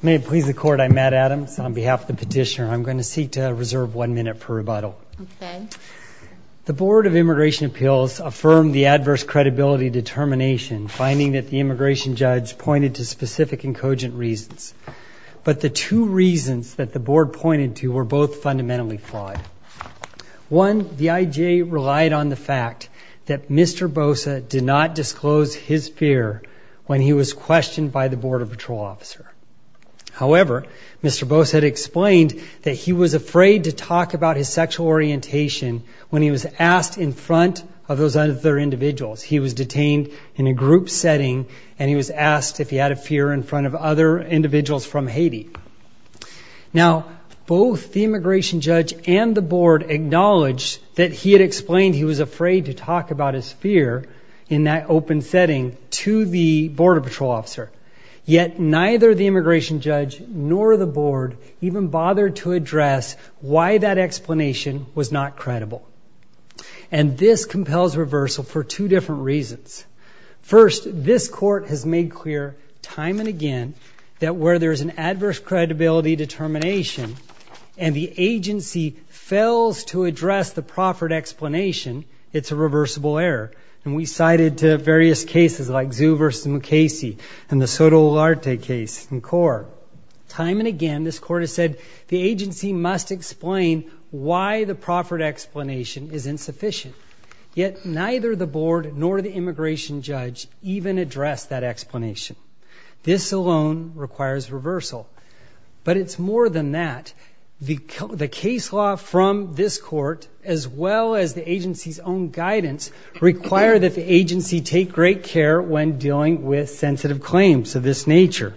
May it please the Court, I'm Matt Adams. On behalf of the petitioner, I'm going to seek to reserve one minute per rebuttal. The Board of Immigration Appeals affirmed the adverse credibility determination, finding that the immigration judge pointed to specific and cogent reasons. But the two reasons that the Board pointed to were both fundamentally flawed. One, the IGA relied on the fact that Mr. Bossa did not disclose his fear when he was questioned by the Border Patrol officer. However, Mr. Bossa had explained that he was afraid to talk about his sexual orientation when he was asked in front of those other individuals. He was detained in a group setting and he was asked if he had a fear in front of other individuals from Haiti. Now, both the immigration judge and the Board acknowledged that he had explained he was afraid to talk about his fear in that open setting to the Border Patrol officer. Yet neither the immigration judge nor the Board even bothered to address why that explanation was not credible. And this compels reversal for two different reasons. First, this court has made clear time and again that where there is an adverse credibility determination and the agency fails to address the proffered explanation, it's a reversible error. And we cited various cases like Zhu versus Mukasey and the Soto Olarte case in court. Time and again, this court has said the agency must explain why the proffered explanation is insufficient. Yet neither the Board nor the immigration judge even addressed that explanation. This alone requires reversal. But it's more than that. The case law from this court, as well as the agency's own guidance, require that the agency take great care when dealing with sensitive claims of this nature.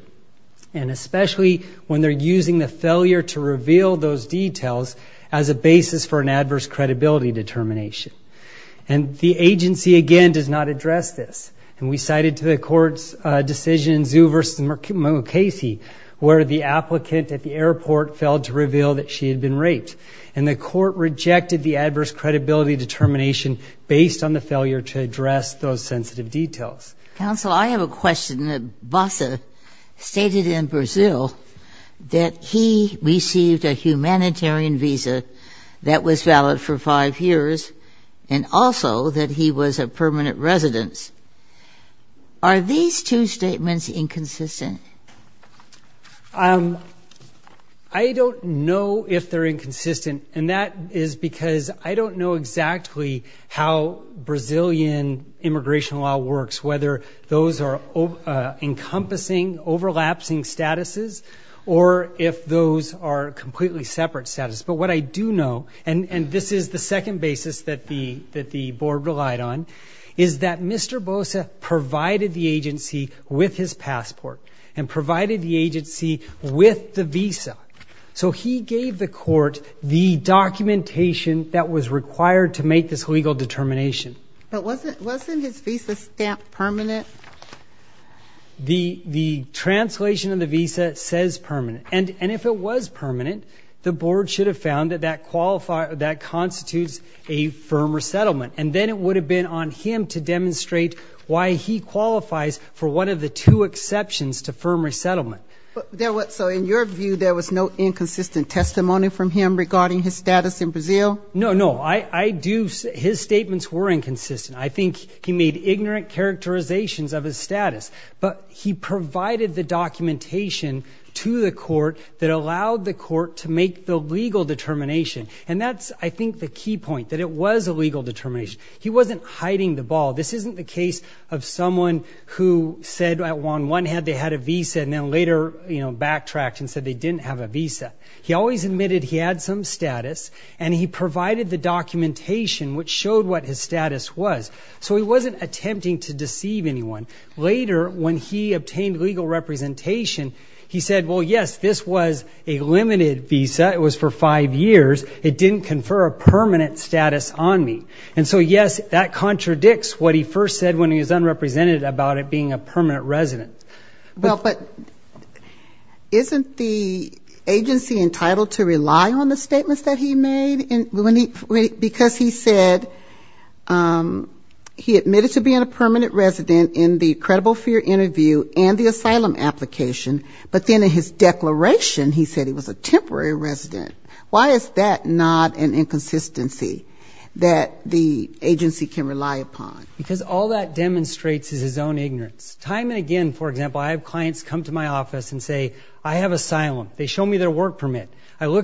And especially when they're using the failure to reveal those details as a basis for an And the agency, again, does not address this. And we cited to the court's decision, Zhu versus Mukasey, where the applicant at the airport failed to reveal that she had been raped. And the court rejected the adverse credibility determination based on the failure to address those sensitive details. Counsel, I have a question that Vassa stated in Brazil that he received a humanitarian visa that was valid for five years, and also that he was a permanent resident. Are these two statements inconsistent? I don't know if they're inconsistent, and that is because I don't know exactly how Brazilian immigration law works, whether those are encompassing, overlapsing statuses or if those are completely separate statuses. But what I do know, and this is the second basis that the board relied on, is that Mr. Bosa provided the agency with his passport, and provided the agency with the visa. So he gave the court the documentation that was required to make this legal determination. But wasn't his visa stamp permanent? The translation of the visa says permanent. And if it was permanent, the board should have found that that constitutes a firm resettlement. And then it would have been on him to demonstrate why he qualifies for one of the two exceptions to firm resettlement. So in your view, there was no inconsistent testimony from him regarding his status in Brazil? No, no. His statements were inconsistent. I think he made ignorant characterizations of his status. But he provided the documentation to the court that allowed the court to make the legal determination. And that's, I think, the key point, that it was a legal determination. He wasn't hiding the ball. This isn't the case of someone who said on one hand they had a visa, and then later backtracked and said they didn't have a visa. He always admitted he had some status, and he provided the documentation which showed what his status was. So he wasn't attempting to deceive anyone. Later, when he obtained legal representation, he said, well, yes, this was a limited visa. It was for five years. It didn't confer a permanent status on me. And so, yes, that contradicts what he first said when he was unrepresented about it being a permanent resident. Well, but isn't the agency entitled to rely on the statements that he made? Because he said he admitted to being a permanent resident in the credible fear interview and the asylum application, but then in his declaration he said he was a temporary resident. Why is that not an inconsistency that the agency can rely upon? Because all that demonstrates is his own ignorance. Time and again, for example, I have clients come to my office and say, I have asylum. They show me their work permit. They've been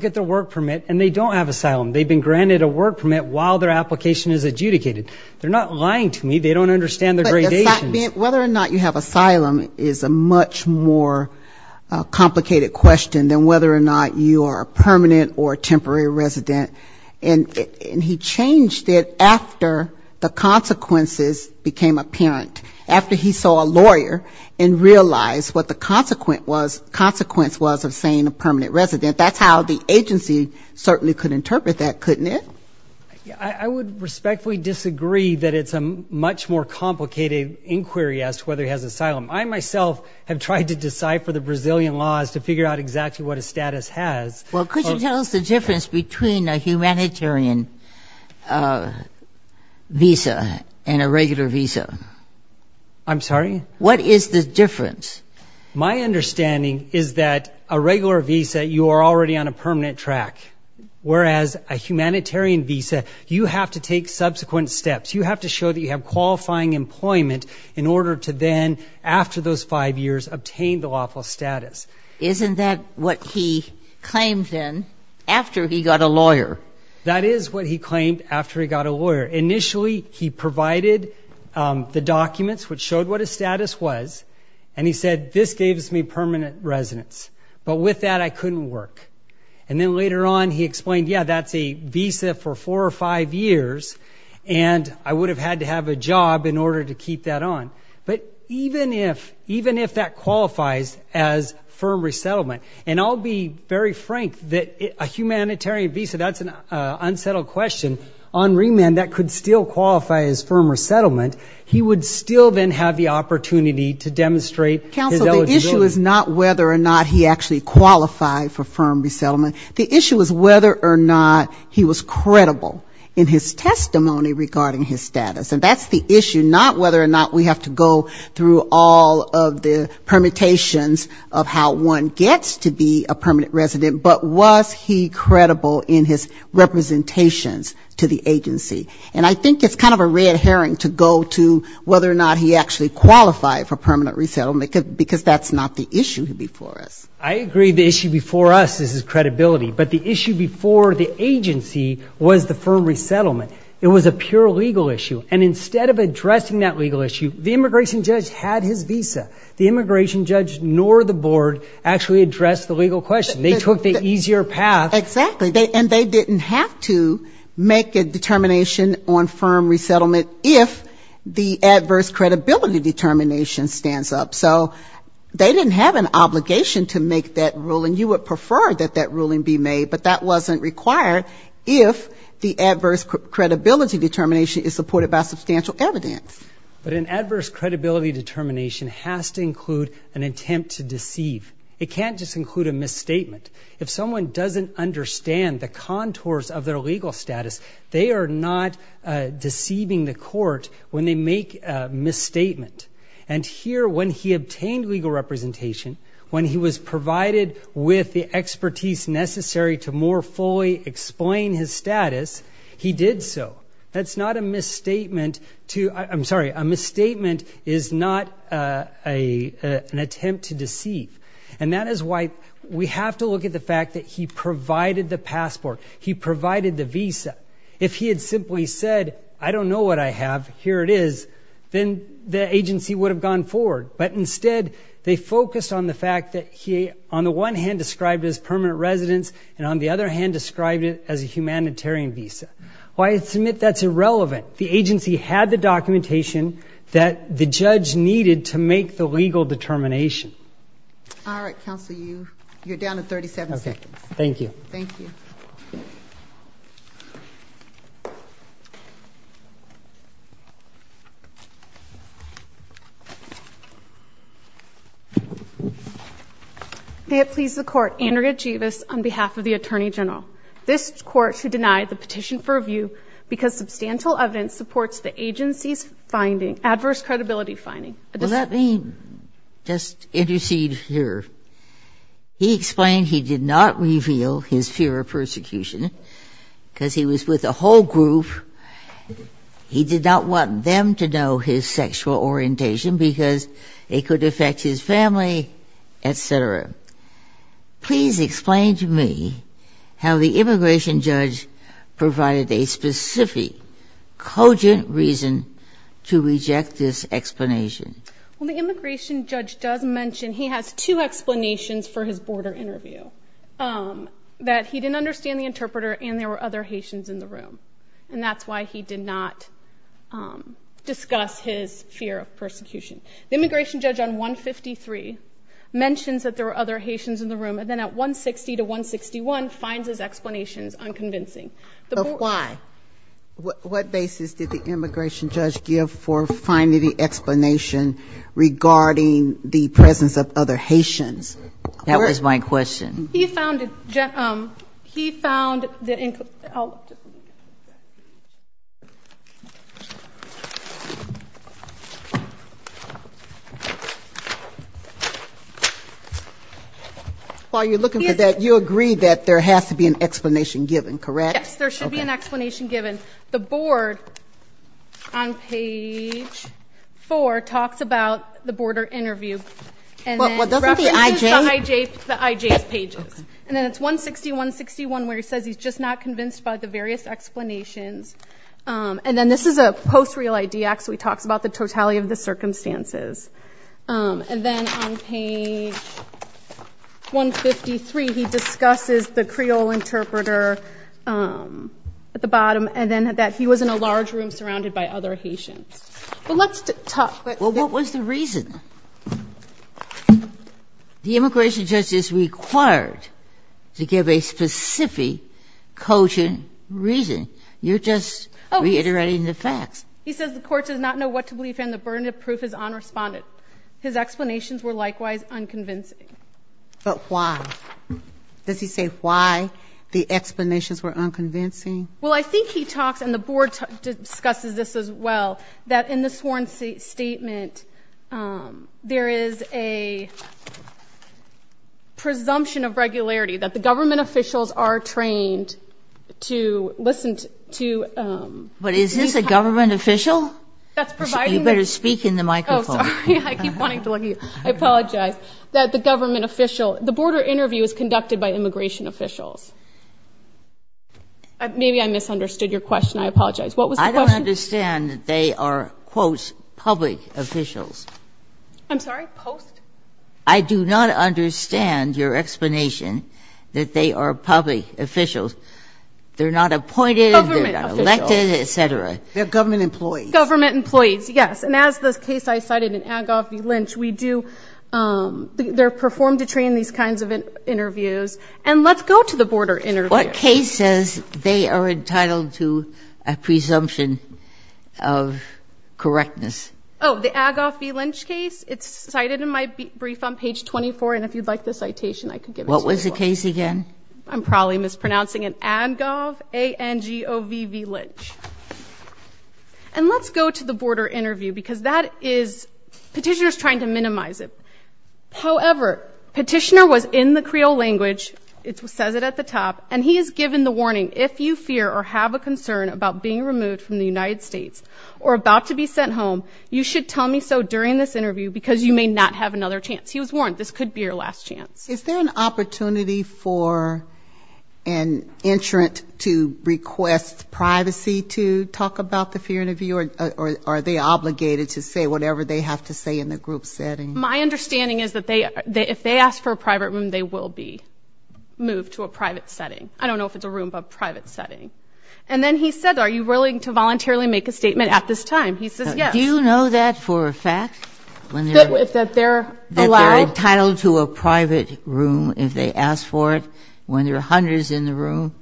granted a work permit while their application is adjudicated. They're not lying to me. They don't understand the gradations. But whether or not you have asylum is a much more complicated question than whether or not you are a permanent or a temporary resident. And he changed it after the consequences became apparent. After he saw a lawyer and realized what the consequence was of saying a permanent resident. That's how the agency certainly could interpret that, couldn't it? I would respectfully disagree that it's a much more complicated inquiry as to whether he has asylum. I myself have tried to decipher the Brazilian laws to figure out exactly what his status has. Well, could you tell us the difference between a humanitarian visa and a regular visa? I'm sorry? What is the difference? My understanding is that a regular visa, you are already on a permanent track, whereas a humanitarian visa, you have to take subsequent steps. You have to show that you have qualifying employment in order to then, after those five years, obtain the lawful status. Isn't that what he claimed then, after he got a lawyer? That is what he claimed after he got a lawyer. Initially, he provided the documents which showed what his status was, and he said, this gave me permanent residence. But with that, I couldn't work. And then later on, he explained, yeah, that's a visa for four or five years, and I would have had to have a job in order to keep that on. But even if that qualifies as firm resettlement, and I'll be very frank that a humanitarian visa, that's an unsettled question. On remand, that could still qualify as firm resettlement. He would still then have the opportunity to demonstrate his eligibility. Counsel, the issue is not whether or not he actually qualified for firm resettlement. The issue is whether or not he was credible in his testimony regarding his status. And that's the issue, not whether or not we have to go through all of the permutations of how one gets to be a permanent resident, but was he credible in his representations to the agency. And I think it's kind of a red herring to go to whether or not he actually qualified for permanent resettlement, because that's not the issue before us. I agree the issue before us is his credibility. But the issue before the agency was the firm resettlement. It was a pure legal issue. And instead of addressing that legal issue, the immigration judge had his visa. The immigration judge nor the board actually addressed the legal question. They took the easier path. Exactly. And they didn't have to make a determination on firm resettlement if the adverse credibility determination stands up. So they didn't have an obligation to make that ruling. You would prefer that that ruling be made, but that wasn't required if the adverse credibility determination is supported by substantial evidence. But an adverse credibility determination has to include an attempt to deceive. It can't just include a misstatement. If someone doesn't understand the contours of their legal status, they are not deceiving the court when they make a misstatement. And here, when he obtained legal representation, when he was provided with the expertise necessary to more fully explain his status, he did so. That's not a misstatement to, I'm sorry, a misstatement is not an attempt to deceive. And that is why we have to look at the fact that he provided the passport. He provided the visa. If he had simply said, I don't know what I have, here it is, then the agency would have gone forward. But instead, they focused on the fact that he, on the one hand, described it as permanent residence and on the other hand, described it as a humanitarian visa. Well, I submit that's irrelevant. The agency had the documentation that the judge needed to make the legal determination. All right, counsel, you're down to 37 seconds. Thank you. Thank you. May it please the court, Andrea Jeevis on behalf of the Attorney General. This court should deny the petition for review because substantial evidence supports the agency's finding, adverse credibility finding. Well, let me just intercede here. He explained he did not reveal his fear of persecution because he was with a whole group. He did not want them to know his sexual orientation because it could affect his family, et cetera. Please explain to me how the immigration judge provided a specific, cogent reason to reject this explanation. Well, the immigration judge does mention he has two explanations for his border interview. That he didn't understand the interpreter and there were other Haitians in the room. And that's why he did not discuss his fear of persecution. The immigration judge on 153 mentions that there were other Haitians in the room and then at 160 to 161 finds his explanations unconvincing. So why? What basis did the immigration judge give for finding the explanation regarding the presence of other Haitians? That was my question. He found the... While you're looking for that, you agree that there has to be an explanation given, correct? Yes, there should be an explanation given. The board on page four talks about the border interview. And then references the IJ's pages. And then it's 160, 161 where he says he's just not convinced by the various explanations. And then this is a post-real ID act, so he talks about the totality of the circumstances. And then on page 153, he discusses the Creole interpreter at the bottom and then that he was in a large room surrounded by other Haitians. But let's talk... The immigration judge is required to give a specific cogent reason. You're just reiterating the facts. He says the court does not know what to believe and the burden of proof is unresponded. His explanations were likewise unconvincing. But why? Does he say why the explanations were unconvincing? Well, I think he talks, and the board discusses this as well, that in the sworn statement, there is a presumption of regularity. That the government officials are trained to listen to... But is this a government official? That's providing... You better speak in the microphone. Oh, sorry. I keep wanting to look at you. I apologize. That the government official... The border interview is conducted by immigration officials. Maybe I misunderstood your question. I apologize. I don't understand that they are, quote, public officials. I'm sorry? Post? I do not understand your explanation that they are public officials. They're not appointed. Government officials. They're not elected, et cetera. They're government employees. Government employees, yes. And as the case I cited in Agoffey-Lynch, we do... They're performed to train these kinds of interviews. And let's go to the border interview. What case says they are entitled to a presumption of correctness? Oh, the Agoffey-Lynch case. It's cited in my brief on page 24. And if you'd like the citation, I could give it to you as well. What was the case again? I'm probably mispronouncing it. Adgov, A-N-G-O-V-V-Lynch. And let's go to the border interview because that is... Petitioner's trying to minimize it. However, Petitioner was in the Creole language. It says it at the top. And he is given the warning, if you fear or have a concern about being removed from the United States or about to be sent home, you should tell me so during this interview because you may not have another chance. He was warned, this could be your last chance. Is there an opportunity for an entrant to request privacy to talk about the fear interview, or are they obligated to say whatever they have to say in the group setting? My understanding is that if they ask for a private room, they will be moved to a private setting. I don't know if it's a room, but a private setting. And then he said, are you willing to voluntarily make a statement at this time? He says yes. Do you know that for a fact? That they're allowed? That they're entitled to a private room if they ask for it when there are hundreds in the room?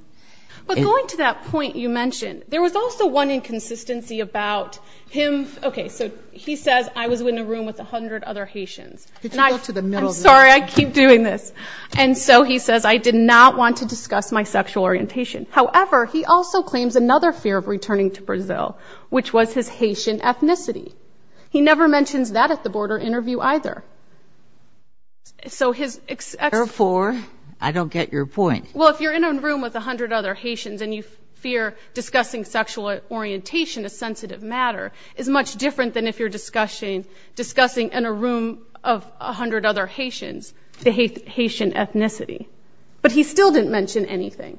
But going to that point you mentioned, there was also one inconsistency about him. Okay, so he says I was in a room with 100 other Haitians. I'm sorry, I keep doing this. And so he says I did not want to discuss my sexual orientation. However, he also claims another fear of returning to Brazil, which was his Haitian ethnicity. He never mentions that at the border interview either. Therefore, I don't get your point. Well, if you're in a room with 100 other Haitians and you fear discussing sexual orientation, a sensitive matter, is much different than if you're discussing in a room of 100 other Haitians the Haitian ethnicity. But he still didn't mention anything.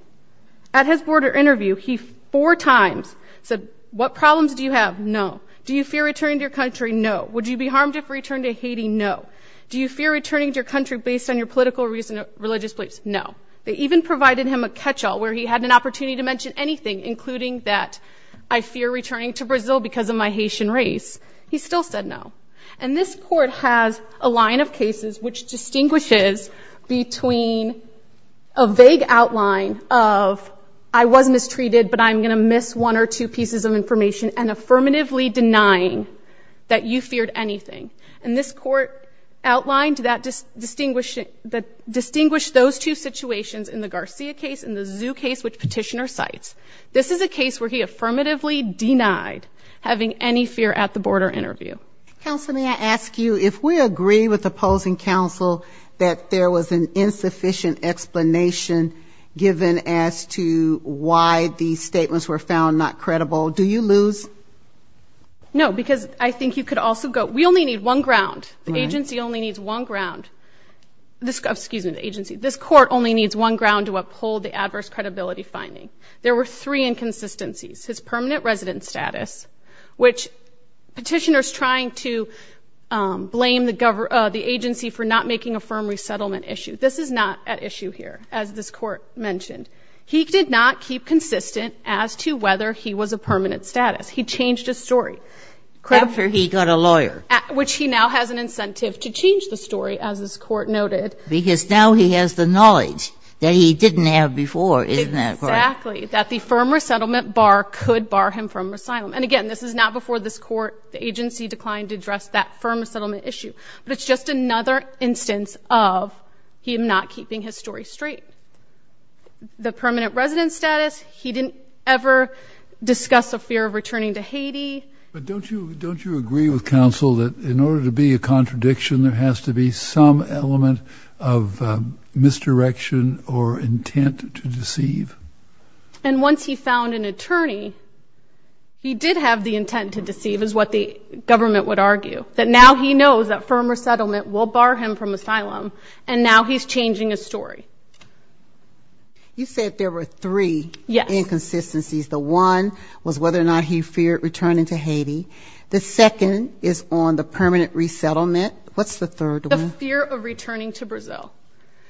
At his border interview, he four times said, what problems do you have? No. Do you fear returning to your country? No. Would you be harmed if returned to Haiti? No. Do you fear returning to your country based on your political or religious beliefs? No. They even provided him a catch-all where he had an opportunity to mention anything, including that I fear returning to Brazil because of my Haitian race. He still said no. And this court has a line of cases which distinguishes between a vague outline of I was mistreated, but I'm going to miss one or two pieces of information, and affirmatively denying that you feared anything. And this court outlined that distinguished those two situations in the Garcia case and the Zhu case, which Petitioner cites. This is a case where he affirmatively denied having any fear at the border interview. Counsel, may I ask you, if we agree with opposing counsel that there was an insufficient explanation given as to why these statements were found not credible, do you lose? No, because I think you could also go, we only need one ground. The agency only needs one ground. Excuse me, the agency. This court only needs one ground to uphold the adverse credibility finding. There were three inconsistencies, his permanent resident status, which Petitioner is trying to blame the agency for not making a firm resettlement issue. This is not at issue here, as this court mentioned. He did not keep consistent as to whether he was a permanent status. He changed his story. After he got a lawyer. Which he now has an incentive to change the story, as this court noted. Because now he has the knowledge that he didn't have before, isn't that right? Exactly. That the firm resettlement bar could bar him from asylum. And again, this is not before this court, the agency declined to address that firm resettlement issue. But it's just another instance of him not keeping his story straight. The permanent resident status, he didn't ever discuss a fear of returning to Haiti. But don't you agree with counsel that in order to be a contradiction, there has to be some element of misdirection or intent to deceive? And once he found an attorney, he did have the intent to deceive, is what the government would argue. That now he knows that firm resettlement will bar him from asylum. And now he's changing his story. You said there were three inconsistencies. The one was whether or not he feared returning to Haiti. The second is on the permanent resettlement. What's the third one? The fear of returning to Brazil.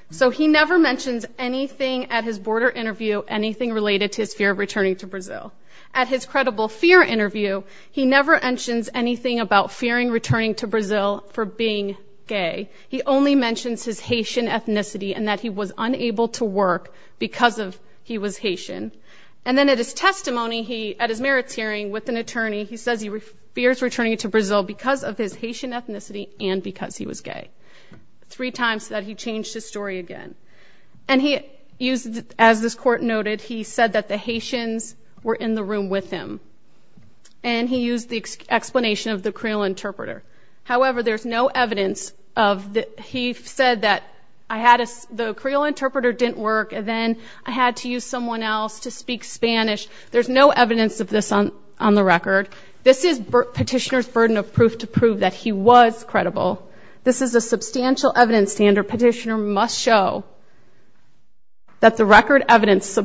So he never mentions anything at his border interview, anything related to his fear of returning to Brazil. At his credible fear interview, he never mentions anything about fearing returning to Brazil for being gay. He only mentions his Haitian ethnicity and that he was unable to work because he was Haitian. And then at his testimony at his merits hearing with an attorney, he says he fears returning to Brazil because of his Haitian ethnicity and because he was gay. Three times that he changed his story again. And he used, as this court noted, he said that the Haitians were in the room with him. And he used the explanation of the Creole interpreter. However, there's no evidence of that. He said that the Creole interpreter didn't work, and then I had to use someone else to speak Spanish. There's no evidence of this on the record. This is Petitioner's burden of proof to prove that he was credible. This is a substantial evidence standard Petitioner must show that the record evidence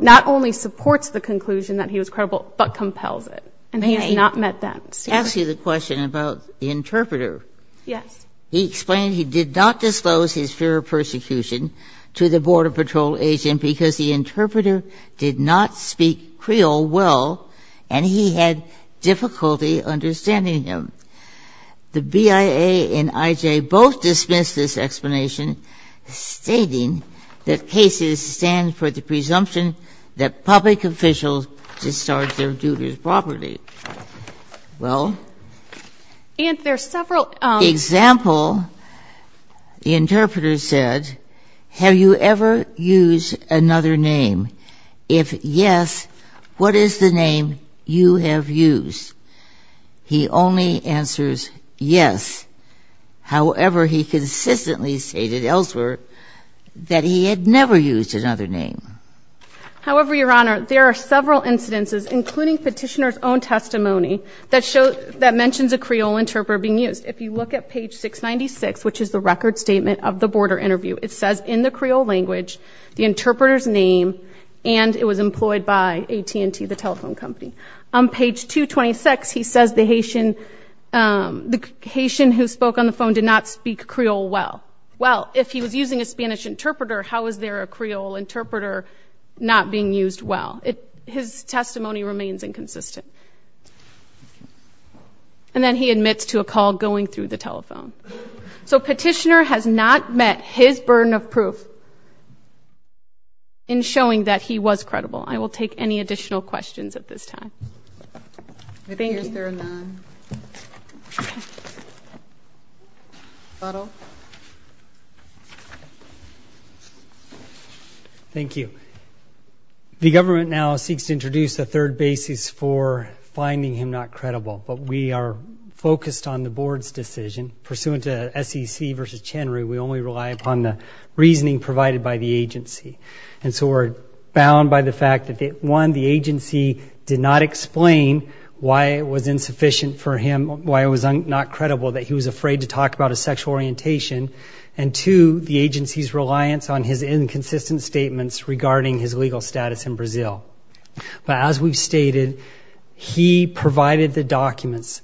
not only supports the conclusion that he was credible but compels it, and he has not met that standard. May I ask you the question about the interpreter? Yes. He explained he did not disclose his fear of persecution to the Border Patrol agent because the interpreter did not speak Creole well and he had difficulty understanding him. The BIA and IJ both dismissed this explanation, stating that cases stand for the presumption that public officials discharge their duties properly. Well? And there's several ---- In the example, the interpreter said, have you ever used another name? If yes, what is the name you have used? He only answers yes. However, he consistently stated elsewhere that he had never used another name. However, Your Honor, there are several incidences, including Petitioner's own testimony, that mentions a Creole interpreter being used. If you look at page 696, which is the record statement of the Border interview, it says in the Creole language the interpreter's name and it was employed by AT&T, the telephone company. On page 226, he says the Haitian who spoke on the phone did not speak Creole well. Well, if he was using a Spanish interpreter, how is there a Creole interpreter not being used well? His testimony remains inconsistent. And then he admits to a call going through the telephone. So Petitioner has not met his burden of proof in showing that he was credible. I will take any additional questions at this time. Thank you. I think there are none. Thank you. The government now seeks to introduce a third basis for finding him not credible, but we are focused on the Board's decision. Pursuant to SEC v. Chenry, we only rely upon the reasoning provided by the agency. And so we're bound by the fact that, one, the agency did not explain why it was insufficient for him, why it was not credible, that he was afraid to talk about his sexual orientation, and, two, the agency's reliance on his inconsistent statements regarding his legal status in Brazil. But as we've stated, he provided the documents.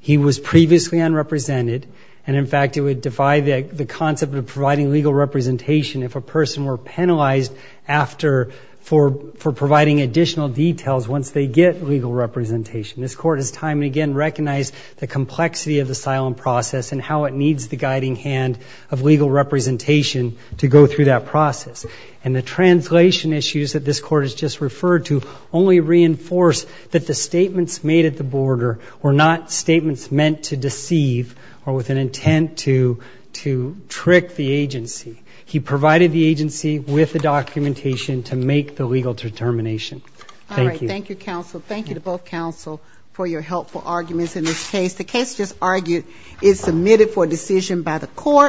He was previously unrepresented, and, in fact, it would defy the concept of providing legal representation if a person were penalized for providing additional details once they get legal representation. This Court has time and again recognized the complexity of the asylum process and how it needs the guiding hand of legal representation to go through that process. And the translation issues that this Court has just referred to only reinforce that the statements made at the border were not statements meant to deceive or with an intent to trick the agency. He provided the agency with the documentation to make the legal determination. Thank you. All right. Thank you, counsel. Thank you to both counsel for your helpful arguments in this case. The case just argued is submitted for decision by the Court.